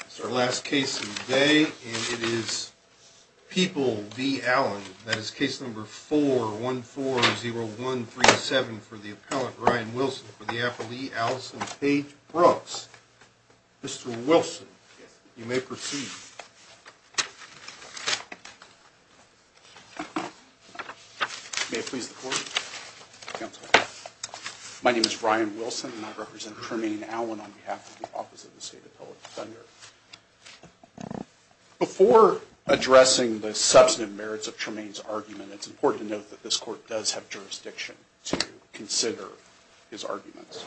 It's our last case today, and it is People v. Allen. That is case number 4140137 for the appellant Ryan Wilson for the affilee Alison Paige Brooks. Mr. Wilson, you may proceed. My name is Ryan Wilson, and I represent Tremaine Allen on behalf of the Office of the State Appellate Defender. Before addressing the substantive merits of Tremaine's argument, it's important to note that this court does have jurisdiction to consider his arguments.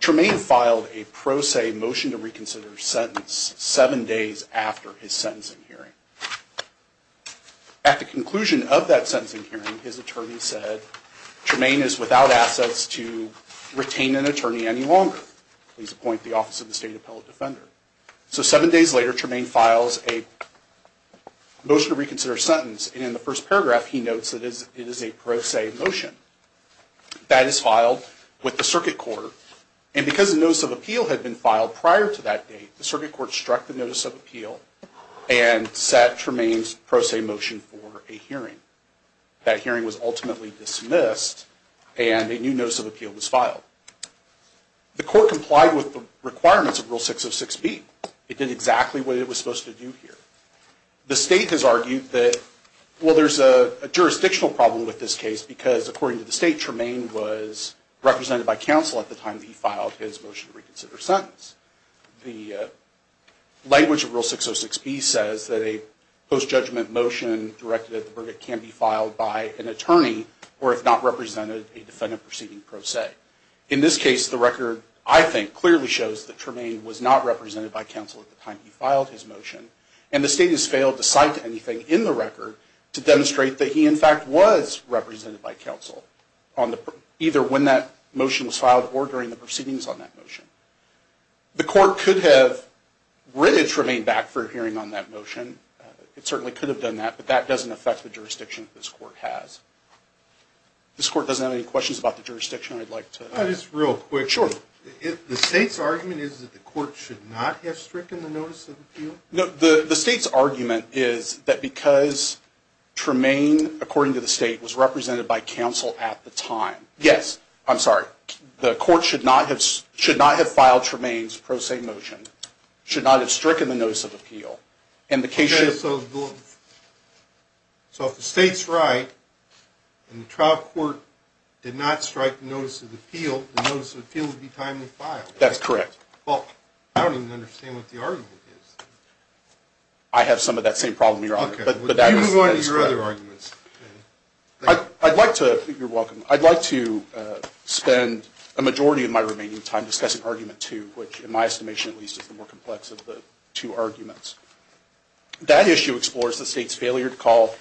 Tremaine filed a pro se motion to reconsider sentence seven days after his sentencing hearing. At the conclusion of that sentencing hearing, his attorney said, Tremaine is without assets to retain an attorney any longer. Please appoint the Office of the State Appellate Defender. So seven days later, Tremaine files a motion to reconsider sentence, and in the first paragraph he notes that it is a pro se motion. That is filed with the circuit court, and because a notice of appeal had been filed prior to that date, the circuit court struck the notice of appeal and set Tremaine's pro se motion for a hearing. That hearing was ultimately dismissed, and a new notice of appeal was filed. The court complied with the requirements of Rule 606B. It did exactly what it was supposed to do here. The State has argued that, well, there's a jurisdictional problem with this case, because according to the State, Tremaine was represented by counsel at the time he filed his motion to reconsider sentence. The language of Rule 606B says that a post judgment motion directed at the verdict can be filed by an attorney, or if not represented, a defendant proceeding pro se. In this case, the record, I think, clearly shows that Tremaine was not represented by counsel at the time he filed his motion. And the State has failed to cite anything in the record to demonstrate that he, in fact, was represented by counsel, either when that motion was filed or during the proceedings on that motion. The court could have written Tremaine back for a hearing on that motion. It certainly could have done that, but that doesn't affect the jurisdiction that this court has. This court doesn't have any questions about the jurisdiction I'd like to ask. Just real quick, the State's argument is that the court should not have stricken the notice of appeal? The State's argument is that because Tremaine, according to the State, was represented by counsel at the time, yes, I'm sorry, the court should not have filed Tremaine's pro se motion, should not have stricken the notice of appeal. So if the State's right and the trial court did not strike the notice of appeal, the notice of appeal would be timely filed? That's correct. Well, I don't even understand what the argument is. I have some of that same problem, Your Honor. Okay. You can go into your other arguments. I'd like to, you're welcome, I'd like to spend a majority of my remaining time discussing argument two, which in my estimation at least is the more complex of the two arguments. That issue explores the State's failure to call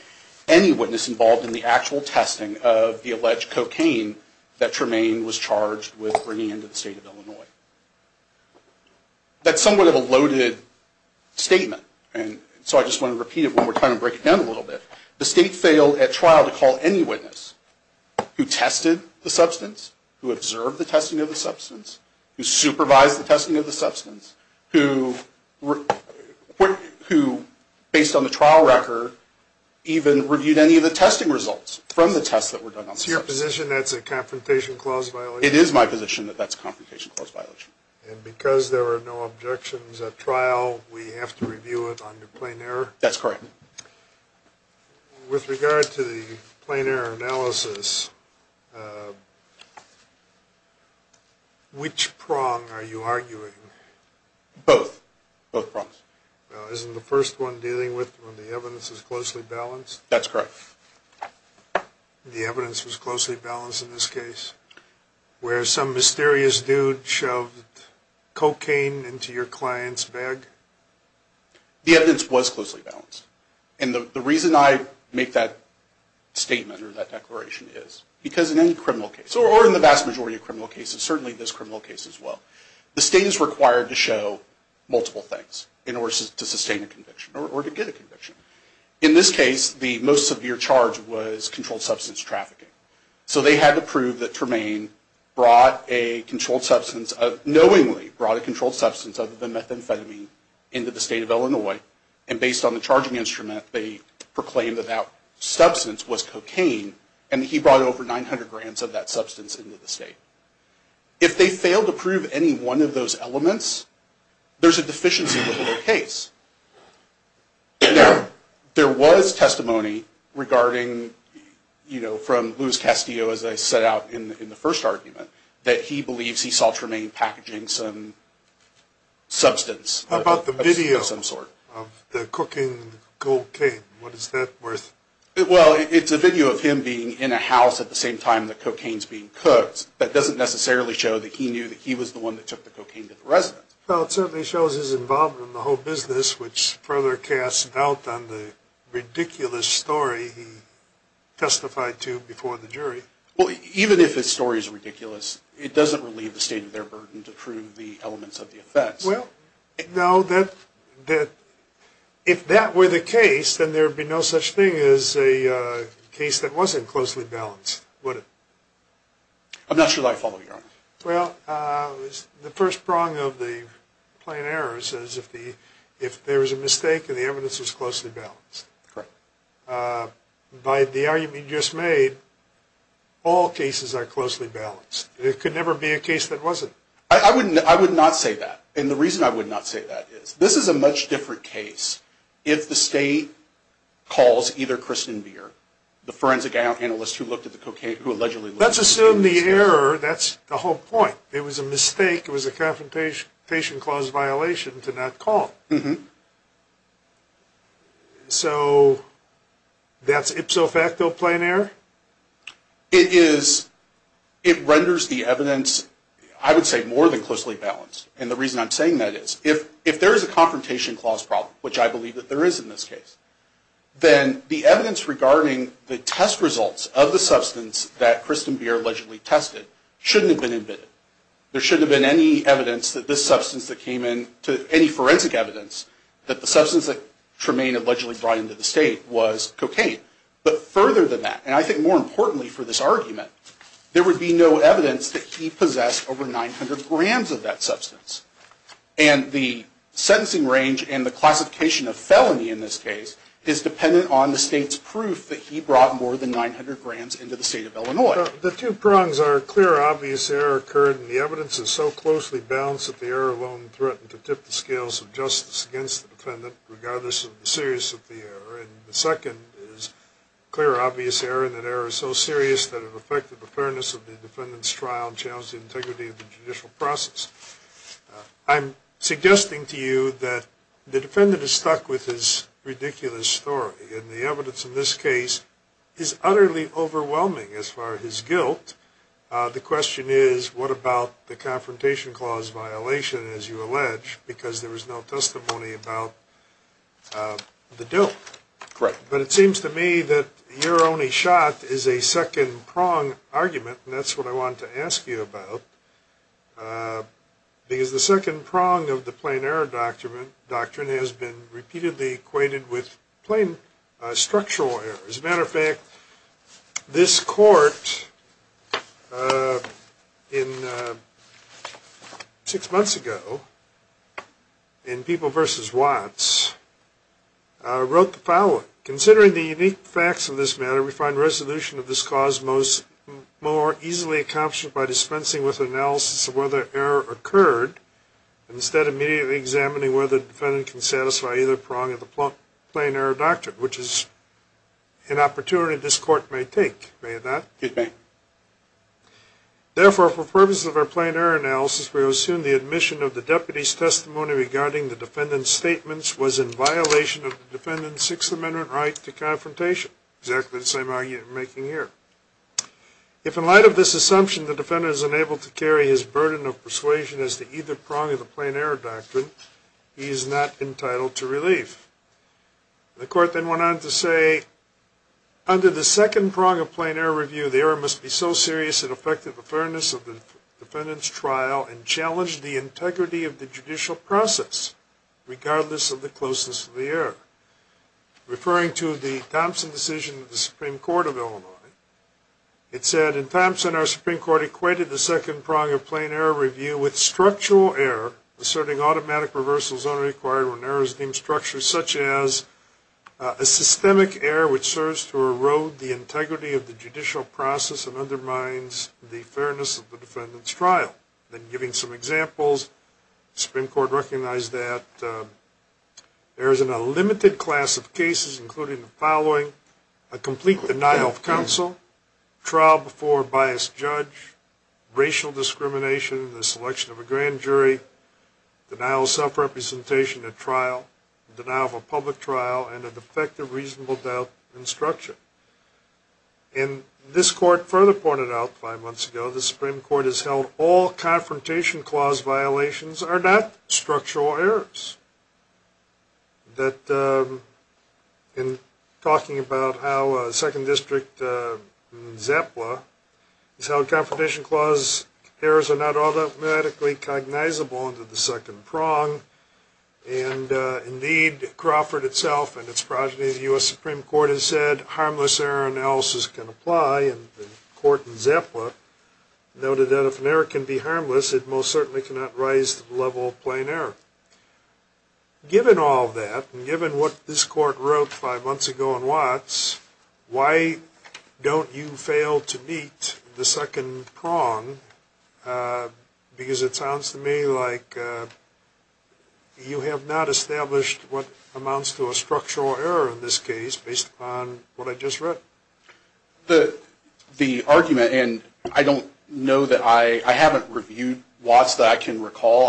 any witness involved in the actual testing of the alleged cocaine that Tremaine was charged with bringing into the State of Illinois. That's somewhat of a loaded statement, and so I just want to repeat it one more time and break it down a little bit. The State failed at trial to call any witness who tested the substance, who observed the testing of the substance, who supervised the testing of the substance, who, based on the trial record, even reviewed any of the testing results from the tests that were done on the substance. Is it your position that's a confrontation clause violation? It is my position that that's a confrontation clause violation. And because there are no objections at trial, we have to review it under plain error? That's correct. With regard to the plain error analysis, which prong are you arguing? Both. Both prongs. Well, isn't the first one dealing with when the evidence is closely balanced? That's correct. The evidence was closely balanced in this case, where some mysterious dude shoved cocaine into your client's bag? The evidence was closely balanced. And the reason I make that statement or that declaration is because in any criminal case, or in the vast majority of criminal cases, certainly this criminal case as well, the State is required to show multiple things in order to sustain a conviction or to get a conviction. In this case, the most severe charge was controlled substance trafficking. So they had to prove that Tremaine knowingly brought a controlled substance other than methamphetamine into the State of Illinois. And based on the charging instrument, they proclaimed that that substance was cocaine. And he brought over 900 grams of that substance into the State. If they failed to prove any one of those elements, there's a deficiency within the case. There was testimony regarding, you know, from Luis Castillo, as I set out in the first argument, that he believes he saw Tremaine packaging some substance of some sort. How about the video of the cooking cocaine? What is that worth? Well, it's a video of him being in a house at the same time the cocaine's being cooked. That doesn't necessarily show that he knew that he was the one that took the cocaine to the residence. Well, it certainly shows his involvement in the whole business, which further casts doubt on the ridiculous story he testified to before the jury. Well, even if his story is ridiculous, it doesn't relieve the State of their burden to prove the elements of the offense. Well, no, if that were the case, then there would be no such thing as a case that wasn't closely balanced, would it? I'm not sure that I follow you, Your Honor. Well, the first prong of the plain error says if there was a mistake and the evidence was closely balanced. Correct. By the argument you just made, all cases are closely balanced. It could never be a case that wasn't. I would not say that. And the reason I would not say that is this is a much different case if the State calls either Kristen Beer, the forensic analyst who looked at the cocaine, who allegedly looked at the cocaine. Let's assume the error, that's the whole point. It was a mistake, it was a confrontation clause violation to not call. So that's ipso facto plain error? It is. It renders the evidence, I would say, more than closely balanced. And the reason I'm saying that is if there is a confrontation clause problem, which I believe that there is in this case, then the evidence regarding the test results of the substance that Kristen Beer allegedly tested shouldn't have been admitted. There shouldn't have been any evidence that this substance that came in, any forensic evidence, that the substance that Tremaine allegedly brought into the State was cocaine. But further than that, and I think more importantly for this argument, there would be no evidence that he possessed over 900 grams of that substance. And the sentencing range and the classification of felony in this case is dependent on the State's proof that he brought more than 900 grams into the State of Illinois. The two prongs are a clear, obvious error occurred and the evidence is so closely balanced that the error alone threatened to tip the scales of justice against the defendant regardless of the seriousness of the error. And the second is a clear, obvious error and that error is so serious that it affected the fairness of the defendant's trial and challenged the integrity of the judicial process. I'm suggesting to you that the defendant is stuck with his ridiculous story. And the evidence in this case is utterly overwhelming as far as his guilt. The question is, what about the Confrontation Clause violation, as you allege, because there was no testimony about the deal? Correct. But it seems to me that your only shot is a second prong argument, and that's what I want to ask you about. Because the second prong of the Plain Error Doctrine has been repeatedly equated with plain structural errors. As a matter of fact, this court six months ago, in People v. Watts, wrote the following. Considering the unique facts of this matter, we find resolution of this cause more easily accomplished by dispensing with analysis of whether error occurred, instead immediately examining whether the defendant can satisfy either prong of the Plain Error Doctrine, which is an opportunity this court may take. May it not? It may. Therefore, for purposes of our Plain Error Analysis, we assume the admission of the deputy's testimony regarding the defendant's statements was in violation of the defendant's Sixth Amendment right to confrontation. Exactly the same argument we're making here. If, in light of this assumption, the defendant is unable to carry his burden of persuasion as to either prong of the Plain Error Doctrine, he is not entitled to relief. The court then went on to say, Under the second prong of Plain Error Review, the error must be so serious it affected the fairness of the defendant's trial and challenged the integrity of the judicial process, regardless of the closeness of the error. Referring to the Thompson decision of the Supreme Court of Illinois, it said, In Thompson, our Supreme Court equated the second prong of Plain Error Review with structural error, asserting automatic reversal is only required when error is deemed structural, such as a systemic error which serves to erode the integrity of the judicial process and undermines the fairness of the defendant's trial. Then, giving some examples, the Supreme Court recognized that errors in a limited class of cases, including the following, a complete denial of counsel, trial before a biased judge, racial discrimination in the selection of a grand jury, denial of self-representation at trial, denial of a public trial, and a defective reasonable doubt in structure. And this court further pointed out five months ago, the Supreme Court has held all Confrontation Clause violations are not structural errors. That in talking about how Second District ZEPLA has held Confrontation Clause errors are not automatically cognizable under the second prong, and indeed Crawford itself and its progeny of the U.S. Supreme Court has said harmless error analysis can apply, and the court in ZEPLA noted that if an error can be harmless, it most certainly cannot rise to the level of plain error. Given all that, and given what this court wrote five months ago in Watts, why don't you fail to meet the second prong? Because it sounds to me like you have not established what amounts to a structural error in this case based upon what I just read. The argument, and I don't know that I, I haven't reviewed Watts that I can recall.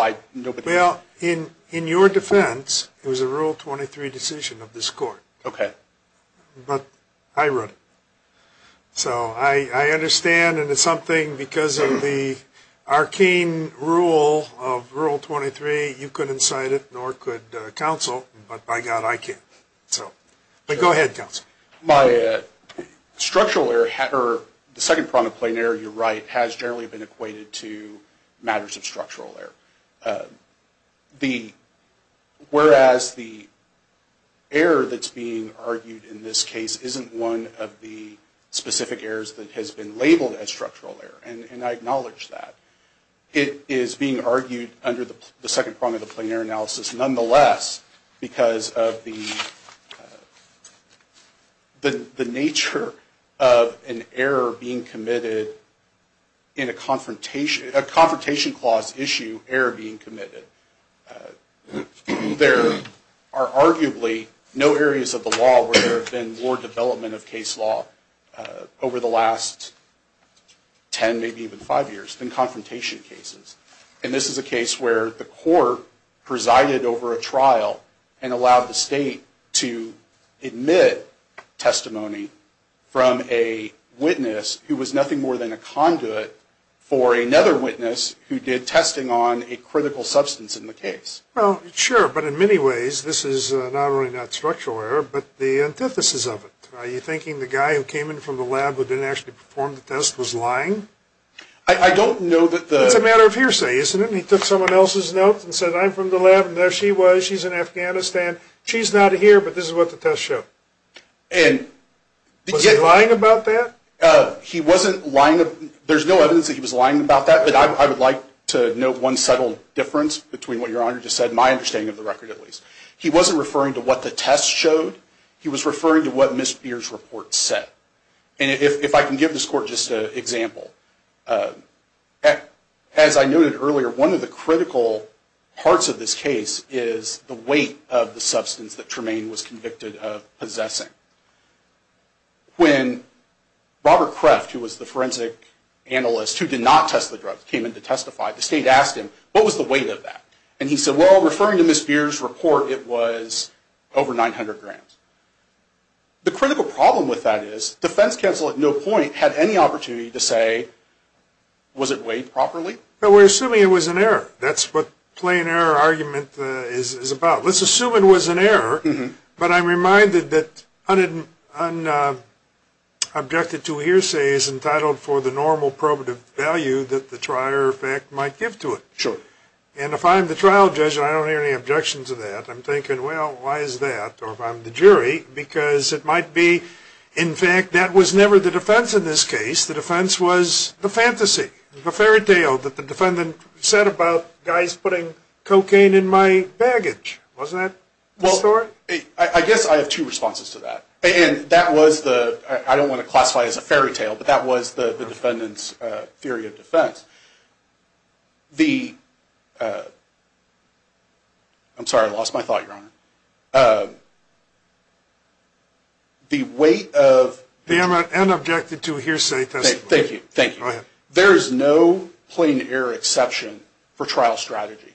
Well, in your defense, it was a Rule 23 decision of this court. Okay. But I wrote it. So I understand, and it's something because of the arcane rule of Rule 23, you couldn't cite it, nor could counsel, but by God, I can. So, but go ahead, counsel. My structural error, or the second prong of plain error, you're right, has generally been equated to matters of structural error. The, whereas the error that's being argued in this case isn't one of the specific errors that has been labeled as structural error, and I acknowledge that. It is being argued under the second prong of the plain error analysis, nonetheless, because of the nature of an error being committed in a confrontation, a confrontation clause issue, error being committed. There are arguably no areas of the law where there have been more development of case law over the last ten, maybe even five years, than confrontation cases. And this is a case where the court presided over a trial and allowed the state to admit testimony from a witness who was nothing more than a conduit for another witness who did testing on a critical substance in the case. Well, sure, but in many ways, this is not only not structural error, but the antithesis of it. Are you thinking the guy who came in from the lab who didn't actually perform the test was lying? I don't know that the... It's a matter of hearsay, isn't it? He took someone else's notes and said, I'm from the lab, and there she was. She's in Afghanistan. She's not here, but this is what the test showed. And... Was he lying about that? He wasn't lying... There's no evidence that he was lying about that, but I would like to note one subtle difference between what Your Honor just said, my understanding of the record, at least. He wasn't referring to what the test showed. He was referring to what Ms. Beer's report said. And if I can give this court just an example. As I noted earlier, one of the critical parts of this case is the weight of the substance that Tremaine was convicted of possessing. When Robert Kreft, who was the forensic analyst who did not test the drugs, came in to testify, the state asked him, what was the weight of that? And he said, well, referring to Ms. Beer's report, it was over 900 grams. The critical problem with that is, defense counsel at no point had any opportunity to say, was it weighed properly? No, we're assuming it was an error. That's what plain error argument is about. Let's assume it was an error, but I'm reminded that unobjected to hearsay is entitled for the normal probative value that the trier of fact might give to it. Sure. And if I'm the trial judge and I don't hear any objections to that, I'm thinking, well, why is that? Or if I'm the jury, because it might be, in fact, that was never the defense in this case. The defense was the fantasy, the fairytale that the defendant said about guys putting cocaine in my baggage. Wasn't that the story? Well, I guess I have two responses to that. And that was the, I don't want to classify it as a fairytale, but that was the defendant's theory of defense. The, I'm sorry, I lost my thought, Your Honor. The weight of. The unobjected to hearsay testimony. Thank you, thank you. Go ahead. There is no plain error exception for trial strategy.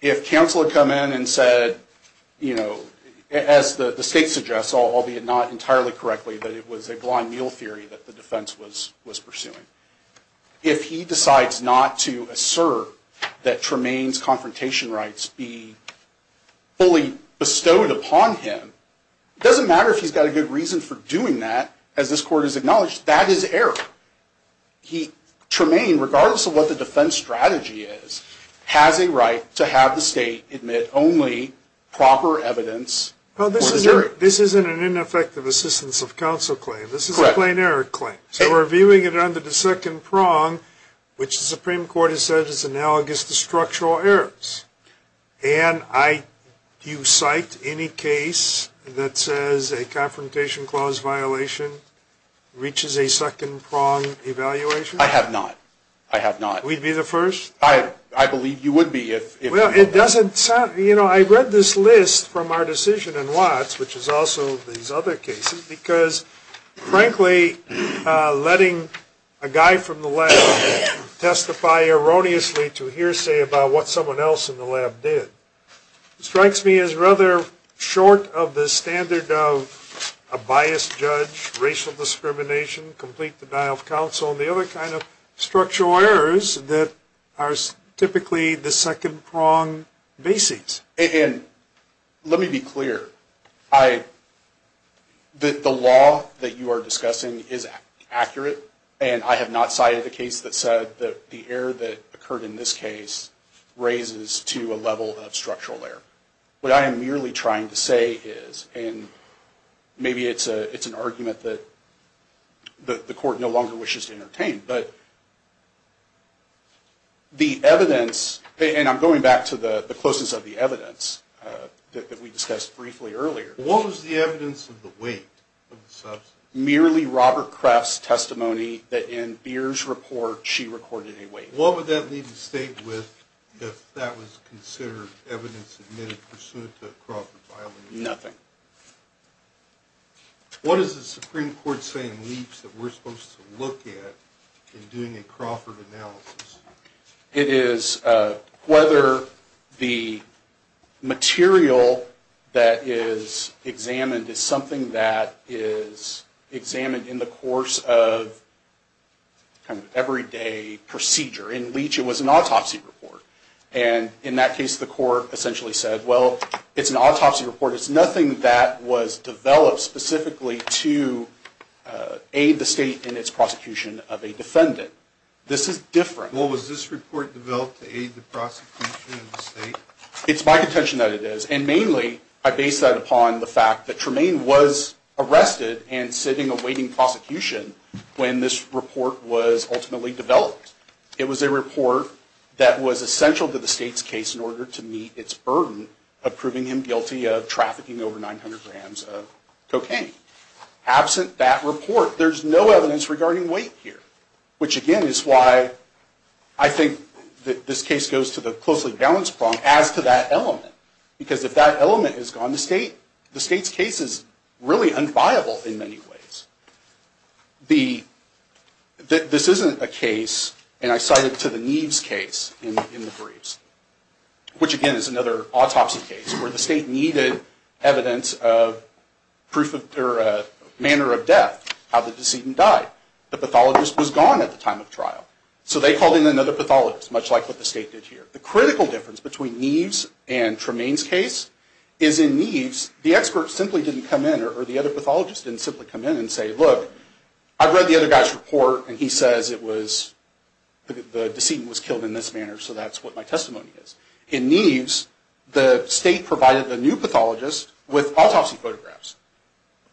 If counsel had come in and said, you know, as the state suggests, albeit not entirely correctly, that it was a blind meal theory that the defense was pursuing. If he decides not to assert that Tremaine's confrontation rights be fully bestowed upon him, it doesn't matter if he's got a good reason for doing that, as this court has acknowledged, that is error. He, Tremaine, regardless of what the defense strategy is, has a right to have the state admit only proper evidence. Well, this isn't an ineffective assistance of counsel claim. This is a plain error claim. So we're viewing it under the second prong, which the Supreme Court has said is analogous to structural errors. And I, do you cite any case that says a confrontation clause violation reaches a second prong evaluation? I have not. I have not. We'd be the first? I believe you would be if. Well, it doesn't sound, you know, I read this list from our decision in Watts, which is also these other cases, because, frankly, letting a guy from the lab testify erroneously to hearsay about what someone else in the lab did, strikes me as rather short of the standard of a biased judge, racial discrimination, complete denial of counsel, and the other kind of structural errors that are typically the second prong basis. And let me be clear. The law that you are discussing is accurate, and I have not cited a case that said that the error that occurred in this case raises to a level of structural error. What I am merely trying to say is, and maybe it's an argument that the court no longer wishes to entertain, but the evidence, and I'm going back to the closeness of the evidence that we discussed briefly earlier. What was the evidence of the weight of the substance? Merely Robert Kreft's testimony that in Beer's report, she recorded a weight. What would that leave the state with if that was considered evidence admitted pursuant to a crossword violation? Nothing. What is the Supreme Court saying leaps that we're supposed to look at in doing a Crawford analysis? It is whether the material that is examined is something that is examined in the course of everyday procedure. In Leach, it was an autopsy report, and in that case, the court essentially said, well, it's an autopsy report. It's nothing that was developed specifically to aid the state in its prosecution of a defendant. This is different. Well, was this report developed to aid the prosecution of the state? It's my contention that it is, and mainly, I base that upon the fact that Tremaine was arrested and sitting awaiting prosecution when this report was ultimately developed. It was a report that was essential to the state's case in order to meet its burden of proving him guilty of trafficking over 900 grams of cocaine. Absent that report, there's no evidence regarding weight here, which again is why I think that this case goes to the closely balanced problem as to that element, because if that element has gone to state, the state's case is really unviable in many ways. This isn't a case, and I cite it to the Neves case in the briefs, which again is another autopsy case where the state needed evidence of proof of manner of death, how the decedent died. The pathologist was gone at the time of trial, so they called in another pathologist, much like what the state did here. The critical difference between Neves and Tremaine's case is in Neves, the expert simply didn't come in, or the other pathologist didn't simply come in and say, look, I've read the other guy's report, and he says the decedent was killed in this manner, so that's what my testimony is. In Neves, the state provided a new pathologist with autopsy photographs,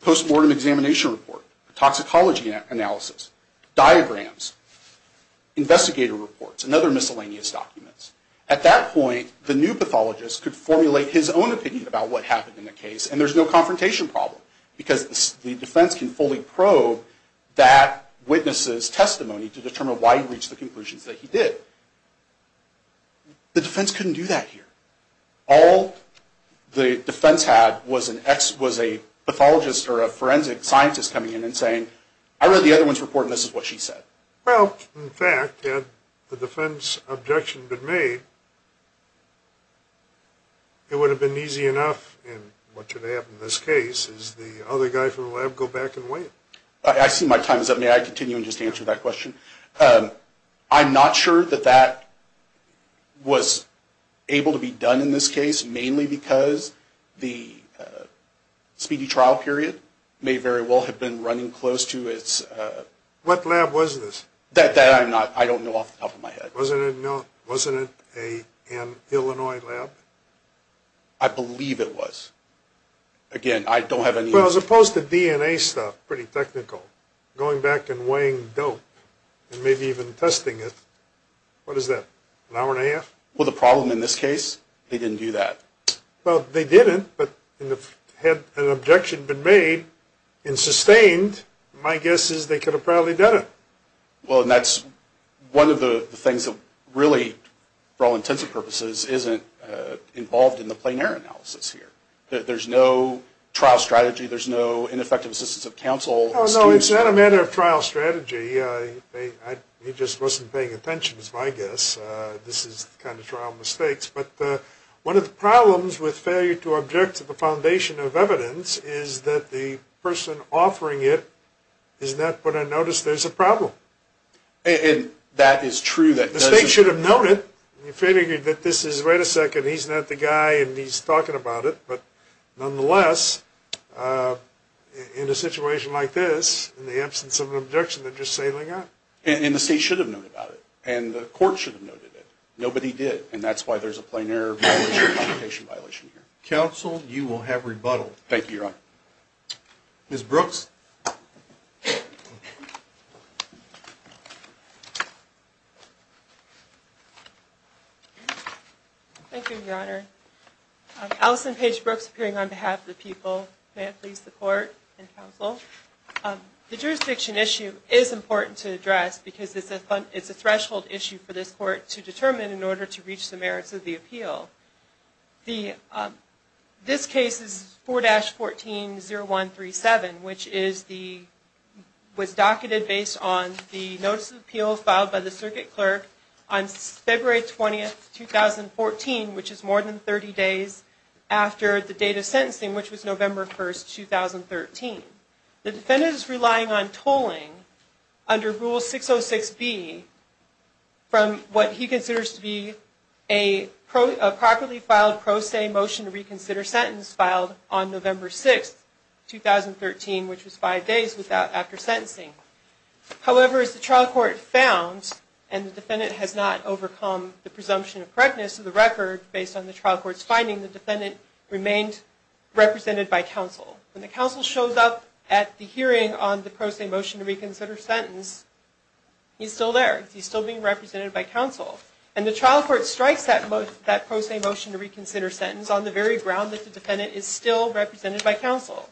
post-mortem examination report, toxicology analysis, diagrams, investigator reports, and other miscellaneous documents. At that point, the new pathologist could formulate his own opinion about what happened in the case, and there's no confrontation problem, because the defense can fully probe that witness's testimony to determine why he reached the conclusions that he did. The defense couldn't do that here. All the defense had was a pathologist or a forensic scientist coming in and saying, I read the other one's report, and this is what she said. Well, in fact, had the defense objection been made, it would have been easy enough, and what should happen in this case is the other guy from the lab go back and wait. I see my time is up. May I continue and just answer that question? I'm not sure that that was able to be done in this case, mainly because the speedy trial period may very well have been running close to its... What lab was this? That I don't know off the top of my head. Wasn't it an Illinois lab? I believe it was. Again, I don't have any... Well, as opposed to DNA stuff, pretty technical, going back and weighing dope and maybe even testing it, what is that, an hour and a half? Well, the problem in this case, they didn't do that. Well, they didn't, but had an objection been made and sustained, my guess is they could have probably done it. Well, and that's one of the things that really, for all intents and purposes, isn't involved in the plein air analysis here. There's no trial strategy. There's no ineffective assistance of counsel. No, it's not a matter of trial strategy. He just wasn't paying attention is my guess. This is kind of trial mistakes. But one of the problems with failure to object to the foundation of evidence is that the person offering it is not going to notice there's a problem. And that is true. The state should have noted. You figured that this is, wait a second, he's not the guy and he's talking about it. But nonetheless, in a situation like this, in the absence of an objection, they're just sailing out. And the state should have noted about it, and the court should have noted it. Nobody did, and that's why there's a plein air violation here. Counsel, you will have rebuttal. Thank you, Your Honor. Ms. Brooks. Thank you, Your Honor. Allison Paige Brooks appearing on behalf of the people. May it please the Court and counsel. The jurisdiction issue is important to address because it's a threshold issue for this court to determine in order to reach the merits of the appeal. This case is 4-14-0137, which was docketed based on the notice of appeal filed by the circuit clerk on February 20th, 2014, which is more than 30 days after the date of sentencing, which was November 1st, 2013. The defendant is relying on tolling under Rule 606B from what he considers to be a properly filed pro se motion to reconsider sentence filed on November 6th, 2013, which was five days after sentencing. However, as the trial court found, and the defendant has not overcome the presumption of correctness of the record based on the trial court's finding, the defendant remained represented by counsel. When the counsel shows up at the hearing on the pro se motion to reconsider sentence, he's still there. He's still being represented by counsel. And the trial court strikes that pro se motion to reconsider sentence on the very ground that the defendant is still represented by counsel.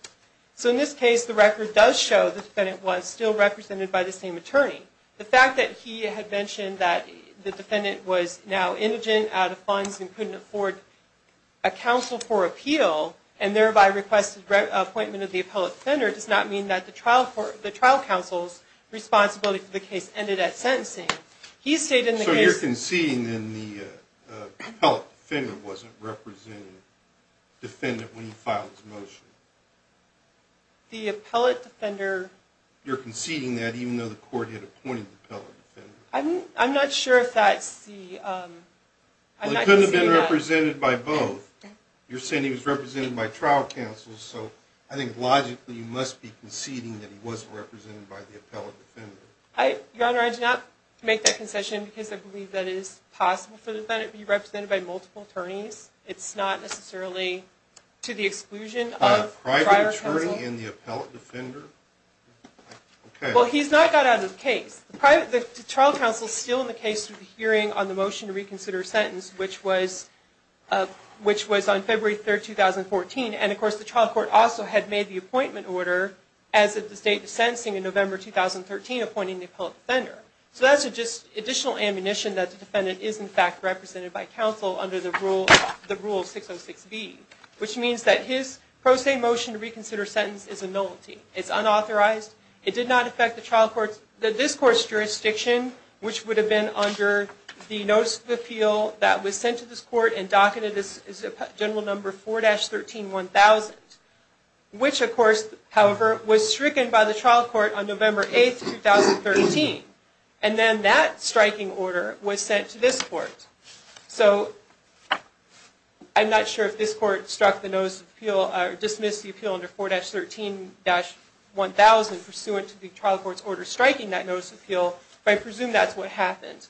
So in this case, the record does show the defendant was still represented by the same attorney. The fact that he had mentioned that the defendant was now indigent, out of funds, and couldn't afford a counsel for appeal and thereby requested appointment of the appellate defender does not mean that the trial counsel's responsibility for the case ended at sentencing. So you're conceding that the appellate defender wasn't representing the defendant when he filed his motion? The appellate defender... You're conceding that even though the court had appointed the appellate defender? I'm not sure if that's the... Well, he couldn't have been represented by both. You're saying he was represented by trial counsel, so I think logically you must be conceding that he wasn't represented by the appellate defender. Your Honor, I did not make that concession because I believe that it is possible for the defendant to be represented by multiple attorneys. It's not necessarily to the exclusion of trial counsel. A private attorney and the appellate defender? Well, he's not got out of the case. The trial counsel's still in the case through the hearing on the motion to reconsider sentence, which was on February 3, 2014. And, of course, the trial court also had made the appointment order as of the state sentencing in November 2013, appointing the appellate defender. So that's just additional ammunition that the defendant is, in fact, represented by counsel under the rule 606B, which means that his pro se motion to reconsider sentence is a nullity. It's unauthorized. It did not affect the trial court's... this court's jurisdiction, which would have been under the notice of appeal that was sent to this court and docketed as general number 4-13-1000, which, of course, however, was stricken by the trial court on November 8, 2013. And then that striking order was sent to this court. So I'm not sure if this court struck the notice of appeal or dismissed the appeal under 4-13-1000, pursuant to the trial court's order striking that notice of appeal, but I presume that's what happened.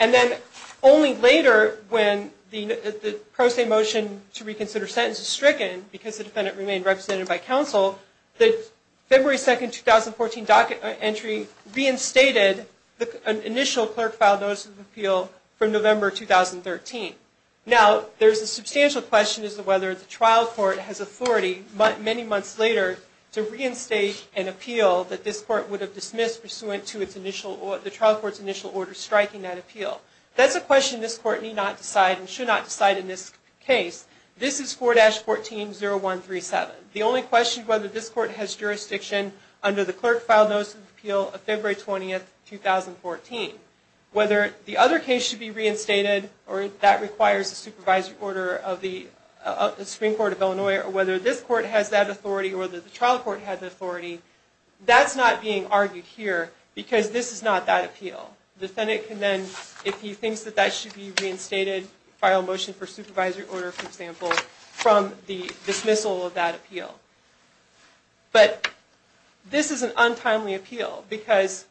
And then only later, when the pro se motion to reconsider sentence is stricken, because the defendant remained represented by counsel, the February 2, 2014, docket entry reinstated an initial clerk filed notice of appeal from November 2013. Now, there's a substantial question as to whether the trial court has authority, many months later, to reinstate an appeal that this court would have dismissed pursuant to the trial court's initial order striking that appeal. That's a question this court need not decide and should not decide in this case. This is 4-14-0137. The only question is whether this court has jurisdiction under the clerk filed notice of appeal of February 20, 2014. Whether the other case should be reinstated, or if that requires a supervisory order of the Supreme Court of Illinois, or whether this court has that authority, or whether the trial court has that authority, that's not being argued here, because this is not that appeal. The defendant can then, if he thinks that that should be reinstated, file a motion for supervisory order, for example, from the dismissal of that appeal. But this is an untimely appeal, because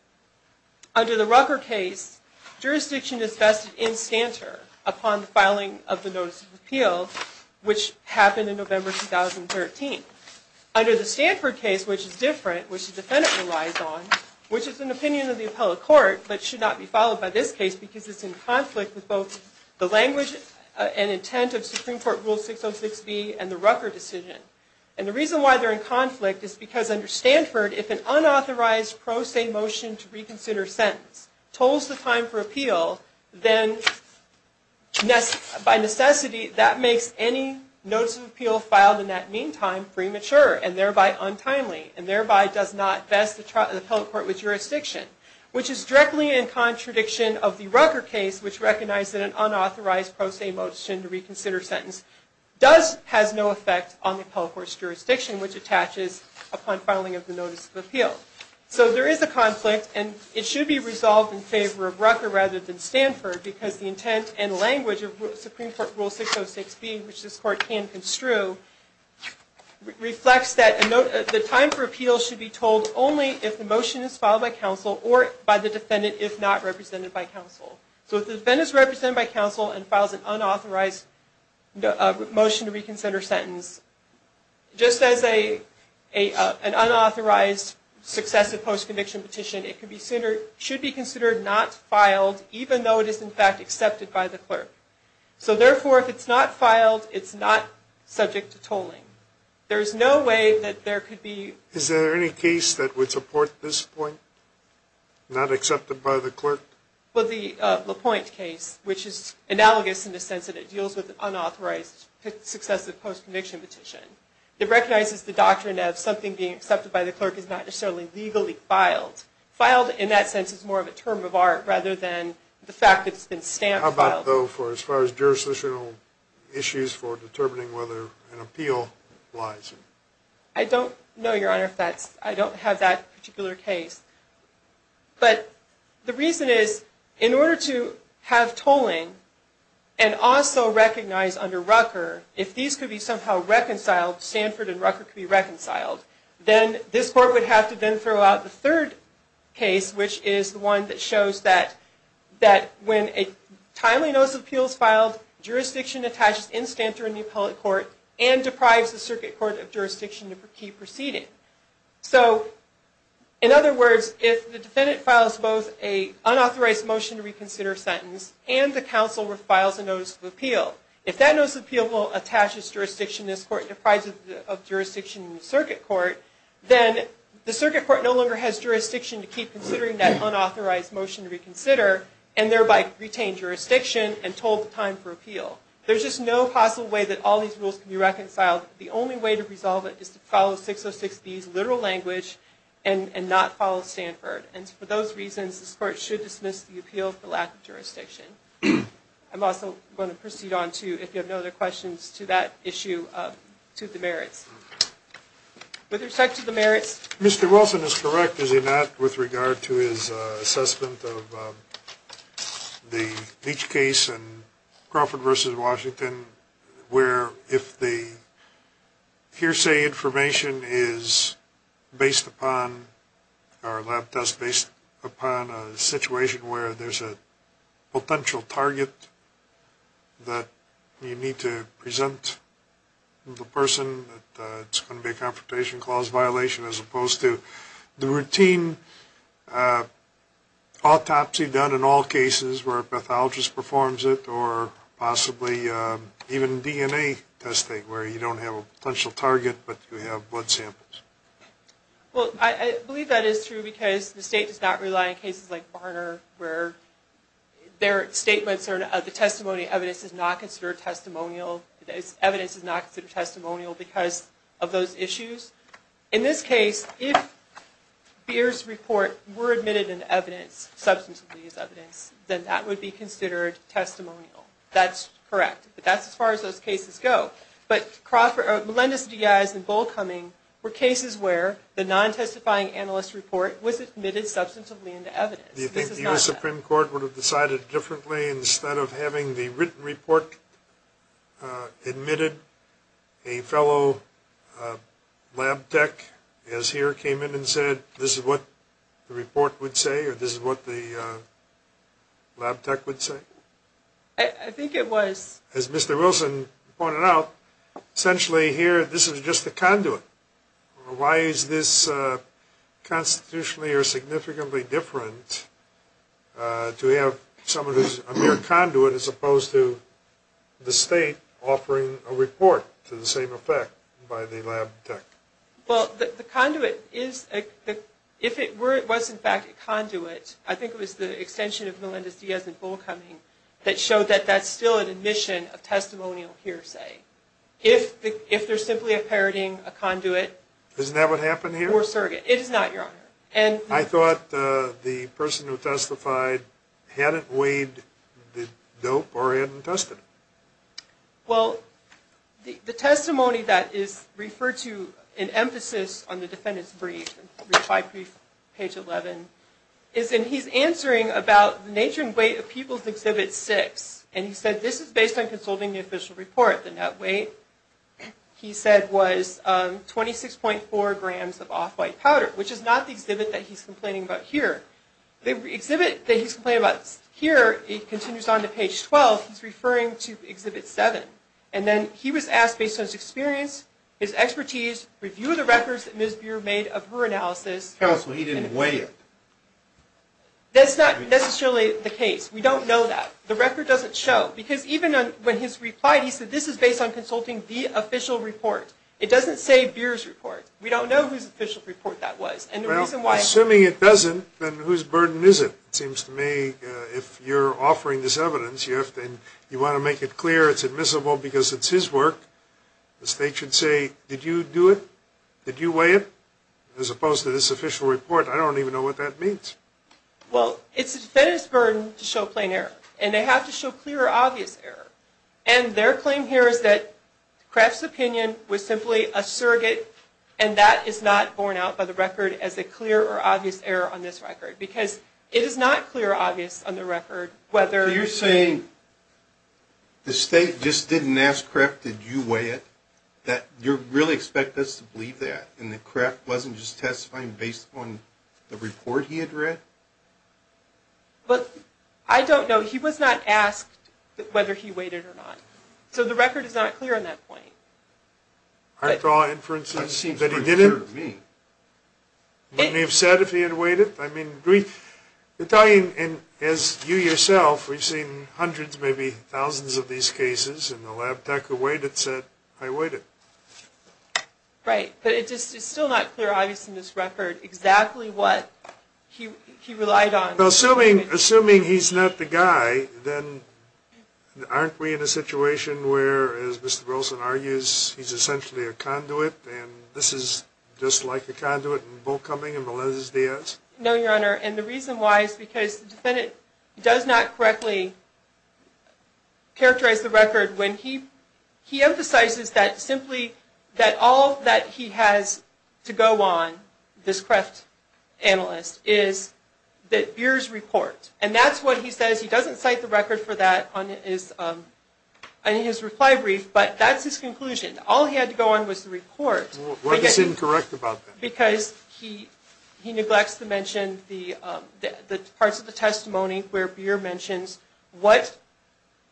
under the Rucker case, jurisdiction is vested in Stanter upon the filing of the notice of appeal, which happened in November 2013. Under the Stanford case, which is different, which the defendant relies on, which is an opinion of the appellate court, but should not be followed by this case, because it's in conflict with both the language and intent of Supreme Court Rule 606B and the Rucker decision. And the reason why they're in conflict is because under Stanford, if an unauthorized pro se motion to reconsider sentence tolls the time for appeal, then by necessity, that makes any notice of appeal filed in that meantime premature, and thereby untimely, and thereby does not vest the appellate court with jurisdiction, which is directly in contradiction of the Rucker case, which recognized that an unauthorized pro se motion to reconsider sentence has no effect on the appellate court's jurisdiction, which attaches upon filing of the notice of appeal. So there is a conflict, and it should be resolved in favor of Rucker rather than Stanford, because the intent and language of Supreme Court Rule 606B, which this court can construe, reflects that the time for appeal should be told only if the motion is filed by counsel or by the defendant, if not represented by counsel. So if the defendant is represented by counsel and files an unauthorized motion to reconsider sentence, just as an unauthorized successive post-conviction petition, it should be considered not filed, even though it is in fact accepted by the clerk. So therefore, if it's not filed, it's not subject to tolling. There is no way that there could be... Is there any case that would support this point, not accepted by the clerk? Well, the LaPointe case, which is analogous in the sense that it deals with an unauthorized successive post-conviction petition. It recognizes the doctrine of something being accepted by the clerk is not necessarily legally filed. Filed, in that sense, is more of a term of art rather than the fact that it's been stamped. How about, though, as far as jurisdictional issues for determining whether an appeal lies? I don't know, Your Honor, if that's... I don't have that particular case. But the reason is, in order to have tolling and also recognize under Rucker, if these could be somehow reconciled, Stanford and Rucker could be reconciled, then this court would have to then throw out the third case, which is the one that shows that when a timely notice of appeals filed, jurisdiction attaches in Stanford in the appellate court and deprives the circuit court of jurisdiction to keep proceeding. So, in other words, if the defendant files both an unauthorized motion to reconsider sentence and the counsel files a notice of appeal, if that notice of appeal attaches jurisdiction in this court and deprives it of jurisdiction in the circuit court, then the circuit court no longer has jurisdiction to keep considering that unauthorized motion to reconsider and thereby retain jurisdiction and toll the time for appeal. There's just no possible way that all these rules can be reconciled. The only way to resolve it is to follow 606B's literal language and not follow Stanford. And for those reasons, this court should dismiss the appeal for lack of jurisdiction. I'm also going to proceed on to, if you have no other questions, to that issue of the merits. With respect to the merits... Mr. Wilson is correct, is he not, with regard to his assessment of the Leach case and Crawford v. Washington, where if the hearsay information is based upon, or lab tests based upon a situation where there's a potential target that you need to present to the person, it's going to be a confrontation clause violation as opposed to the routine autopsy done in all cases where a pathologist performs it or possibly even DNA testing where you don't have a potential target, but you have blood samples. Well, I believe that is true because the state does not rely on cases like Barner where the testimony evidence is not considered testimonial because of those issues. In this case, if Beers' report were admitted into evidence, substantively as evidence, then that would be considered testimonial. That's correct, but that's as far as those cases go. But Melendez-Diaz and Bullcoming were cases where the non-testifying analyst report was admitted substantively into evidence. Do you think the U.S. Supreme Court would have decided differently instead of having the written report admitted, a fellow lab tech as here came in and said, this is what the report would say or this is what the lab tech would say? I think it was. As Mr. Wilson pointed out, essentially here this is just a conduit. Why is this constitutionally or significantly different to have someone who is a mere conduit as opposed to the state offering a report to the same effect by the lab tech? Well, the conduit is, if it was in fact a conduit, I think it was the extension of Melendez-Diaz and Bullcoming that showed that that's still an admission of testimonial hearsay. If there's simply a parroting, a conduit. Isn't that what happened here? Or surrogate. It is not, Your Honor. I thought the person who testified hadn't weighed the dope or hadn't tested it. Well, the testimony that is referred to in emphasis on the defendant's brief, page 11, is in he's answering about the nature and weight of People's Exhibit 6. And he said this is based on consulting the official report. The net weight, he said, was 26.4 grams of off-white powder, which is not the exhibit that he's complaining about here. The exhibit that he's complaining about here, he continues on to page 12, he's referring to Exhibit 7. And then he was asked based on his experience, his expertise, review of the records that Ms. Buehr made of her analysis. Counsel, he didn't weigh it. That's not necessarily the case. We don't know that. The record doesn't show. Because even when he's replied, he said this is based on consulting the official report. It doesn't say Buehr's report. We don't know whose official report that was. Well, assuming it doesn't, then whose burden is it? It seems to me if you're offering this evidence and you want to make it clear it's admissible because it's his work, the state should say, did you do it? Did you weigh it? As opposed to this official report, I don't even know what that means. Well, it's the defendant's burden to show plain error. And they have to show clear or obvious error. And their claim here is that Kreft's opinion was simply a surrogate, and that is not borne out by the record as a clear or obvious error on this record. Because it is not clear or obvious on the record whether you're saying the state just didn't ask Kreft, did you weigh it, that you really expect us to believe that, and that Kreft wasn't just testifying based on the report he had read? But I don't know. He was not asked whether he weighed it or not. So the record is not clear on that point. I saw inferences that he didn't. That seems pretty clear to me. Wouldn't he have said if he had weighed it? I mean, as you yourself, we've seen hundreds, maybe thousands of these cases, and the lab tech who weighed it said, I weighed it. Right. But it's still not clear or obvious in this record exactly what he relied on. Assuming he's not the guy, then aren't we in a situation where, as Mr. Wilson argues, he's essentially a conduit, and this is just like the conduit in Volkoming and Melendez-Diaz? No, Your Honor. And the reason why is because the defendant does not correctly characterize the record when he emphasizes that simply that all that he has to go on, this Kreft analyst, is that Beer's report. And that's what he says. He doesn't cite the record for that on his reply brief, but that's his conclusion. All he had to go on was the report. What is incorrect about that? Because he neglects to mention the parts of the testimony where Beer mentions what,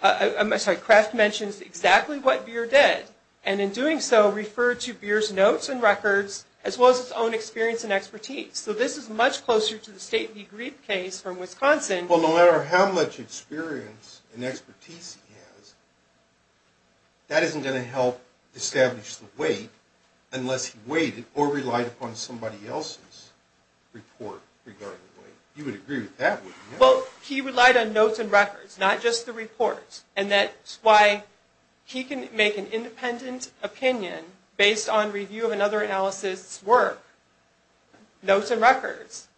I'm sorry, Kreft mentions exactly what Beer did, and in doing so, referred to Beer's notes and records as well as his own experience and expertise. So this is much closer to the State v. Grieb case from Wisconsin. Well, no matter how much experience and expertise he has, that isn't going to help establish the weight unless he weighed it or relied upon somebody else's report regarding weight. You would agree with that, wouldn't you? Well, he relied on notes and records, not just the report, and that's why he can make an independent opinion based on review of another analyst's work. Notes and records.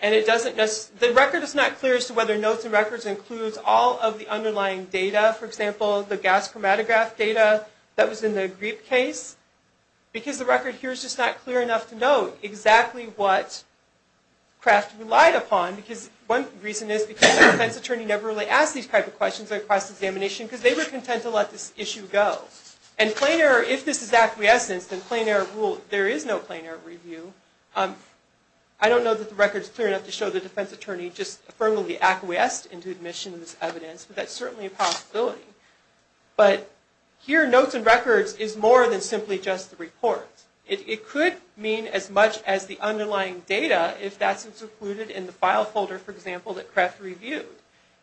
And it doesn't just, the record is not clear as to whether notes and records includes all of the underlying data, for example, the gas chromatograph data that was in the Grieb case, because the record here is just not clear enough to know exactly what Kreft relied upon. One reason is because the defense attorney never really asked these types of questions at a cross-examination because they were content to let this issue go. And plain error, if this is acquiescence, then plain error rule, there is no plain error review. I don't know that the record is clear enough to show the defense attorney just firmly acquiesced into admission of this evidence, but that's certainly a possibility. But here, notes and records is more than simply just the report. It could mean as much as the underlying data if that's included in the file folder, for example, that Kreft reviewed.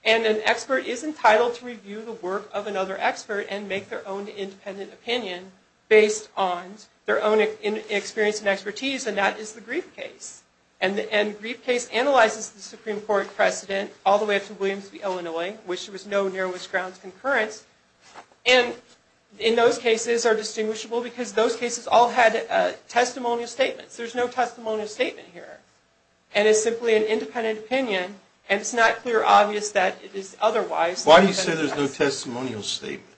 And an expert is entitled to review the work of another expert and make their own independent opinion based on their own experience and expertise, and that is the Grieb case. And the Grieb case analyzes the Supreme Court precedent all the way up to Williams v. Illinois, which there was no narrowest grounds concurrence. And in those cases are distinguishable because those cases all had testimonial statements. There's no testimonial statement here. And it's simply an independent opinion, and it's not clear or obvious that it is otherwise. Why do you say there's no testimonial statement?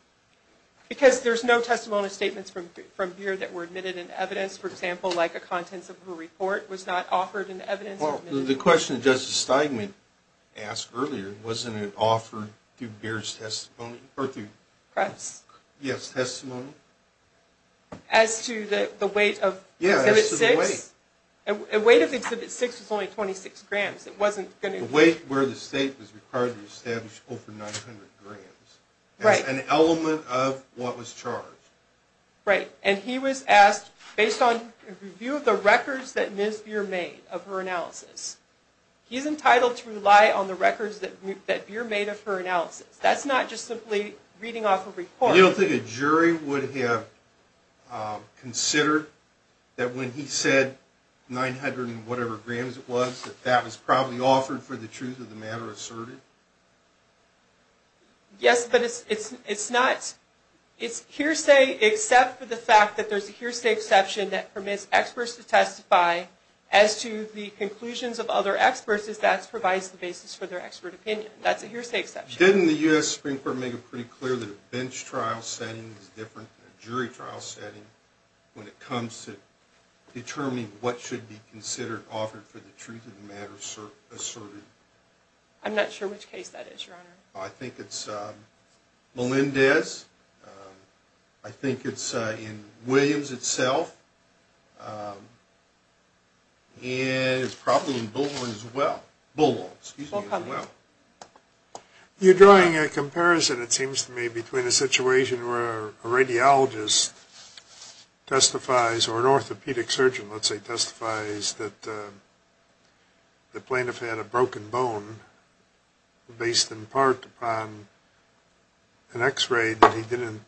Because there's no testimonial statements from here that were admitted in evidence, for example, like the contents of her report was not offered in evidence. Well, the question that Justice Steinman asked earlier, wasn't it offered through Geertz' testimony or through? Kreft's. Yes, testimony. As to the weight of Exhibit 6? Yeah, as to the weight. The weight of Exhibit 6 was only 26 grams. It wasn't going to be. The weight where the state was required to establish over 900 grams. Right. As an element of what was charged. Right. And he was asked, based on a review of the records that Ms. Beer made of her analysis, he's entitled to rely on the records that Beer made of her analysis. That's not just simply reading off a report. You don't think a jury would have considered that when he said 900 and whatever grams it was, that that was probably offered for the truth of the matter asserted? Yes, but it's not. It's hearsay except for the fact that there's a hearsay exception that permits experts to testify as to the conclusions of other experts as that provides the basis for their expert opinion. That's a hearsay exception. Didn't the U.S. Supreme Court make it pretty clear that a bench trial setting is different than a jury trial setting when it comes to determining what should be considered offered for the truth of the matter asserted? I'm not sure which case that is, Your Honor. I think it's Melendez. I think it's in Williams itself. And it's probably in Bulwell as well. Bulwell, excuse me, as well. You're drawing a comparison, it seems to me, between a situation where a radiologist testifies or an orthopedic surgeon, let's say, testifies that the plaintiff had a broken bone based in part upon an x-ray that he didn't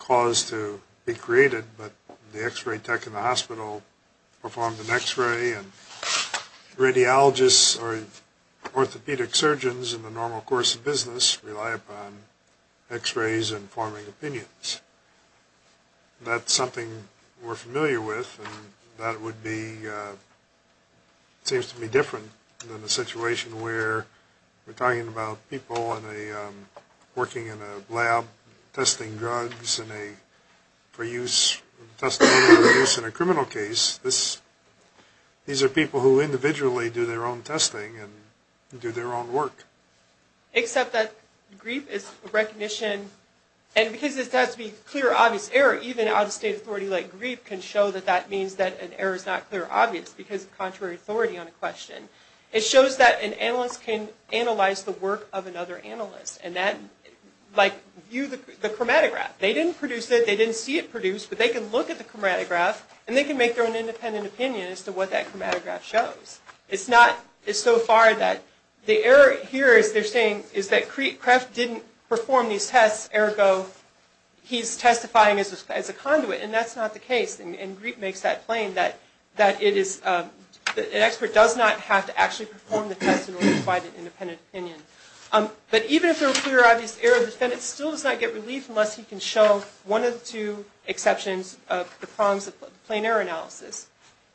cause to be created, but the x-ray tech in the hospital performed an x-ray and radiologists or orthopedic surgeons in the normal course of business rely upon x-rays and forming opinions. That's something we're familiar with. And that would be, seems to be different than a situation where we're talking about people working in a lab testing drugs for use in a criminal case. These are people who individually do their own testing and do their own work. Except that GRIP is a recognition, and because it has to be clear, obvious error, even out-of-state authority like GRIP can show that that means that an error is not clear or obvious because of contrary authority on a question. It shows that an analyst can analyze the work of another analyst. And that, like, view the chromatograph. They didn't produce it. They didn't see it produced, but they can look at the chromatograph and they can make their own independent opinion as to what that chromatograph shows. It's not, it's so far that the error here, as they're saying, is that Kreft didn't perform these tests, ergo he's testifying as a conduit, and that's not the case. And GRIP makes that plain, that it is, an expert does not have to actually perform the test in order to provide an independent opinion. But even if they're clear, obvious error, the defendant still does not get relief unless he can show one of the two exceptions of the problems of plain error analysis.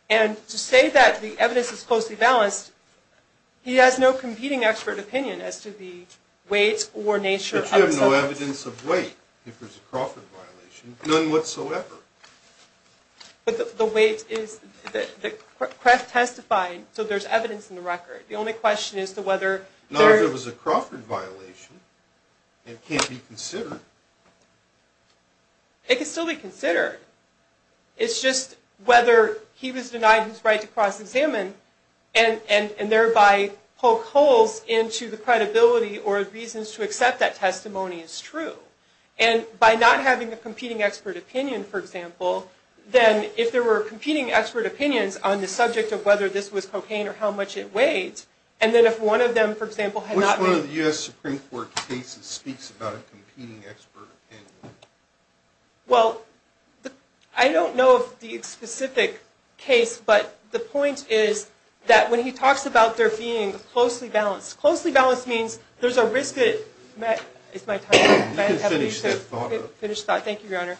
And to say that the evidence is closely balanced, he has no competing expert opinion as to the weight or nature of the evidence. But you have no evidence of weight if there's a Crawford violation. None whatsoever. But the weight is, the, the, Kreft testified, so there's evidence in the record. The only question is to whether there... Not if it was a Crawford violation. It can't be considered. It can still be considered. It's just whether he was denied his right to cross-examine and, and, and thereby poke holes into the credibility or reasons to accept that testimony is true. And by not having a competing expert opinion, for example, then if there were competing expert opinions on the subject of whether this was cocaine or how much it weighed, and then if one of them, for example, had not been... Which one of the U.S. Supreme Court cases speaks about a competing expert opinion? Well, I don't know of the specific case, but the point is that when he talks about there being closely balanced, closely balanced means there's a risk that... It's my time. Finish that thought. Finish that. Thank you, Your Honor.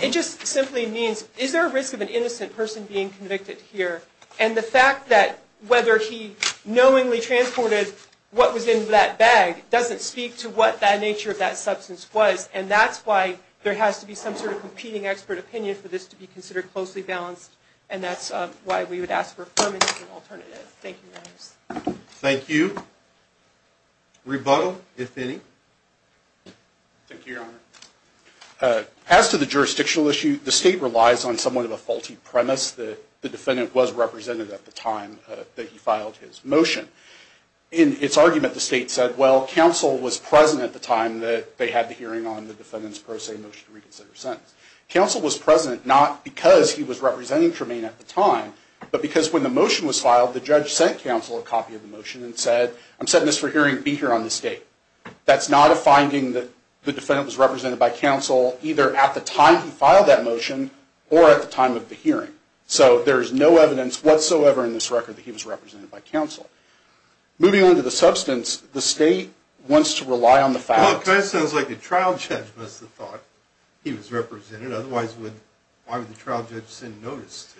It just simply means is there a risk of an innocent person being convicted here? And the fact that whether he knowingly transported what was in that bag doesn't speak to what that nature of that substance was. And that's why there has to be some sort of competing expert opinion for this to be considered closely balanced. And that's why we would ask for affirmative and alternative. Thank you, Your Honor. Thank you. Rebuttal, if any. Thank you, Your Honor. As to the jurisdictional issue, the state relies on somewhat of a faulty premise. The defendant was representative at the time that he filed his motion. In its argument, the state said, well, counsel was present at the time that they had the hearing on the defendant's pro se motion to reconsider sentence. Counsel was present not because he was representing Tremaine at the time, but because when the motion was filed, the judge sent counsel a copy of the motion and said, I'm sending this for hearing. Be here on this date. That's not a finding that the defendant was represented by counsel either at the time he filed that motion or at the time of the hearing. So there is no evidence whatsoever in this record that he was represented by counsel. Moving on to the substance, the state wants to rely on the fact that Well, it kind of sounds like the trial judge must have thought he was represented. Otherwise, why would the trial judge send notice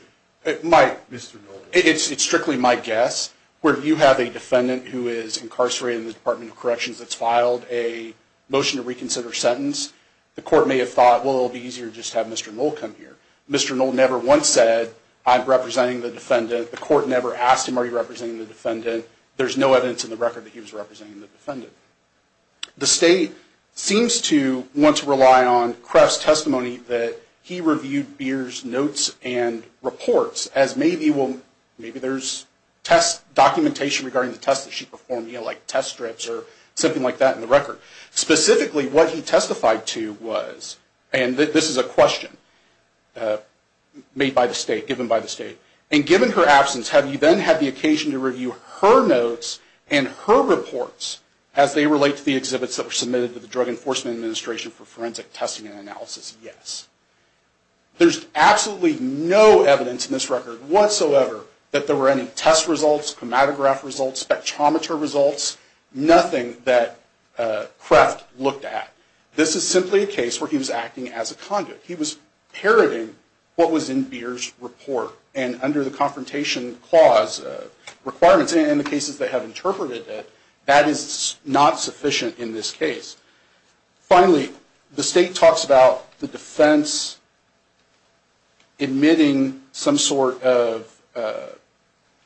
to Mr. Knoll? It's strictly my guess. Where you have a defendant who is incarcerated in the Department of Corrections that's filed a motion to reconsider sentence, the court may have thought, well, it'll be easier just to have Mr. Knoll come here. Mr. Knoll never once said, I'm representing the defendant. The court never asked him, are you representing the defendant? There's no evidence in the record that he was representing the defendant. The state seems to want to rely on Kreft's testimony that he reviewed Beer's notes and reports as maybe there's documentation regarding the tests that she performed, like test strips or something like that in the record. Specifically, what he testified to was, and this is a question given by the state, and given her absence, have you then had the occasion to review her notes and her reports as they relate to the exhibits that were submitted to the Drug Enforcement Administration for forensic testing and analysis? Yes. There's absolutely no evidence in this record whatsoever that there were any test results, chromatograph results, spectrometer results, nothing that Kreft looked at. This is simply a case where he was acting as a conduit. He was parroting what was in Beer's report, and under the Confrontation Clause requirements, and in the cases that have interpreted it, that is not sufficient in this case. Finally, the state talks about the defense admitting some sort of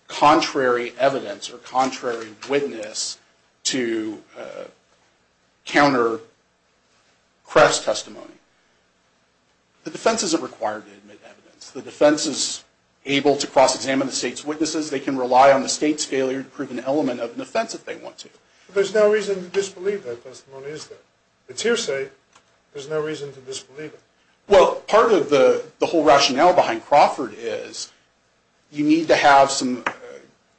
contrary evidence or contrary witness to counter Kreft's testimony. The defense isn't required to admit evidence. The defense is able to cross-examine the state's witnesses. They can rely on the state's failure to prove an element of an offense if they want to. But there's no reason to disbelieve that testimony, is there? It's hearsay. There's no reason to disbelieve it. Well, part of the whole rationale behind Crawford is you need to have some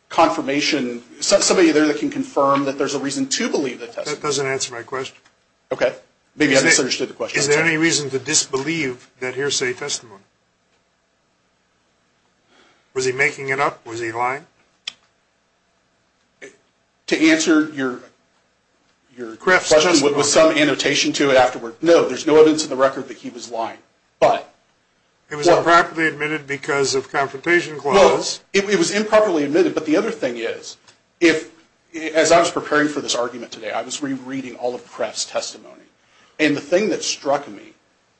confirmation, somebody there that can confirm that there's a reason to believe that testimony. That doesn't answer my question. Okay. Maybe I misunderstood the question. Is there any reason to disbelieve that hearsay testimony? Was he making it up? Was he lying? To answer your question with some annotation to it afterward, no. There's no evidence in the record that he was lying. It was improperly admitted because of Confrontation Clause. No. It was improperly admitted. But the other thing is, as I was preparing for this argument today, I was rereading all of Kreft's testimony, and the thing that struck me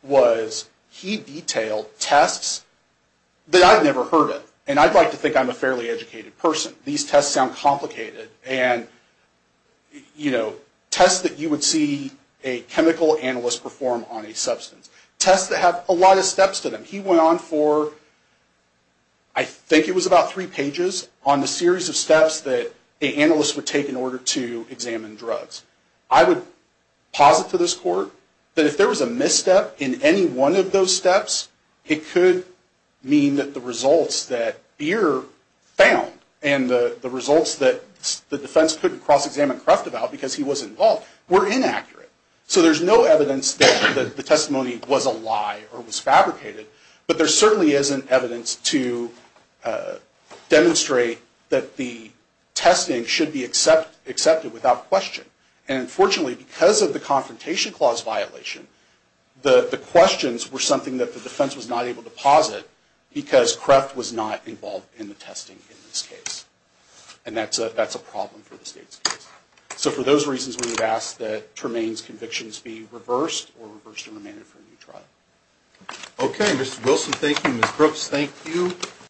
was he detailed tests that I'd never heard of, and I'd like to think I'm a fairly educated person. These tests sound complicated. And, you know, tests that you would see a chemical analyst perform on a substance. Tests that have a lot of steps to them. He went on for, I think it was about three pages, on the series of steps that an analyst would take in order to examine drugs. I would posit to this court that if there was a misstep in any one of those steps, it could mean that the results that Beer found, and the results that the defense couldn't cross-examine Kreft about because he wasn't involved, were inaccurate. So there's no evidence that the testimony was a lie or was fabricated, but there certainly isn't evidence to demonstrate that the testing should be accepted without question. And, unfortunately, because of the Confrontation Clause violation, the questions were something that the defense was not able to posit because Kreft was not involved in the testing in this case. And that's a problem for the state's case. So for those reasons, we would ask that Tremaine's convictions be reversed or reversed and remanded for a new trial. Okay, Mr. Wilson, thank you. Ms. Brooks, thank you.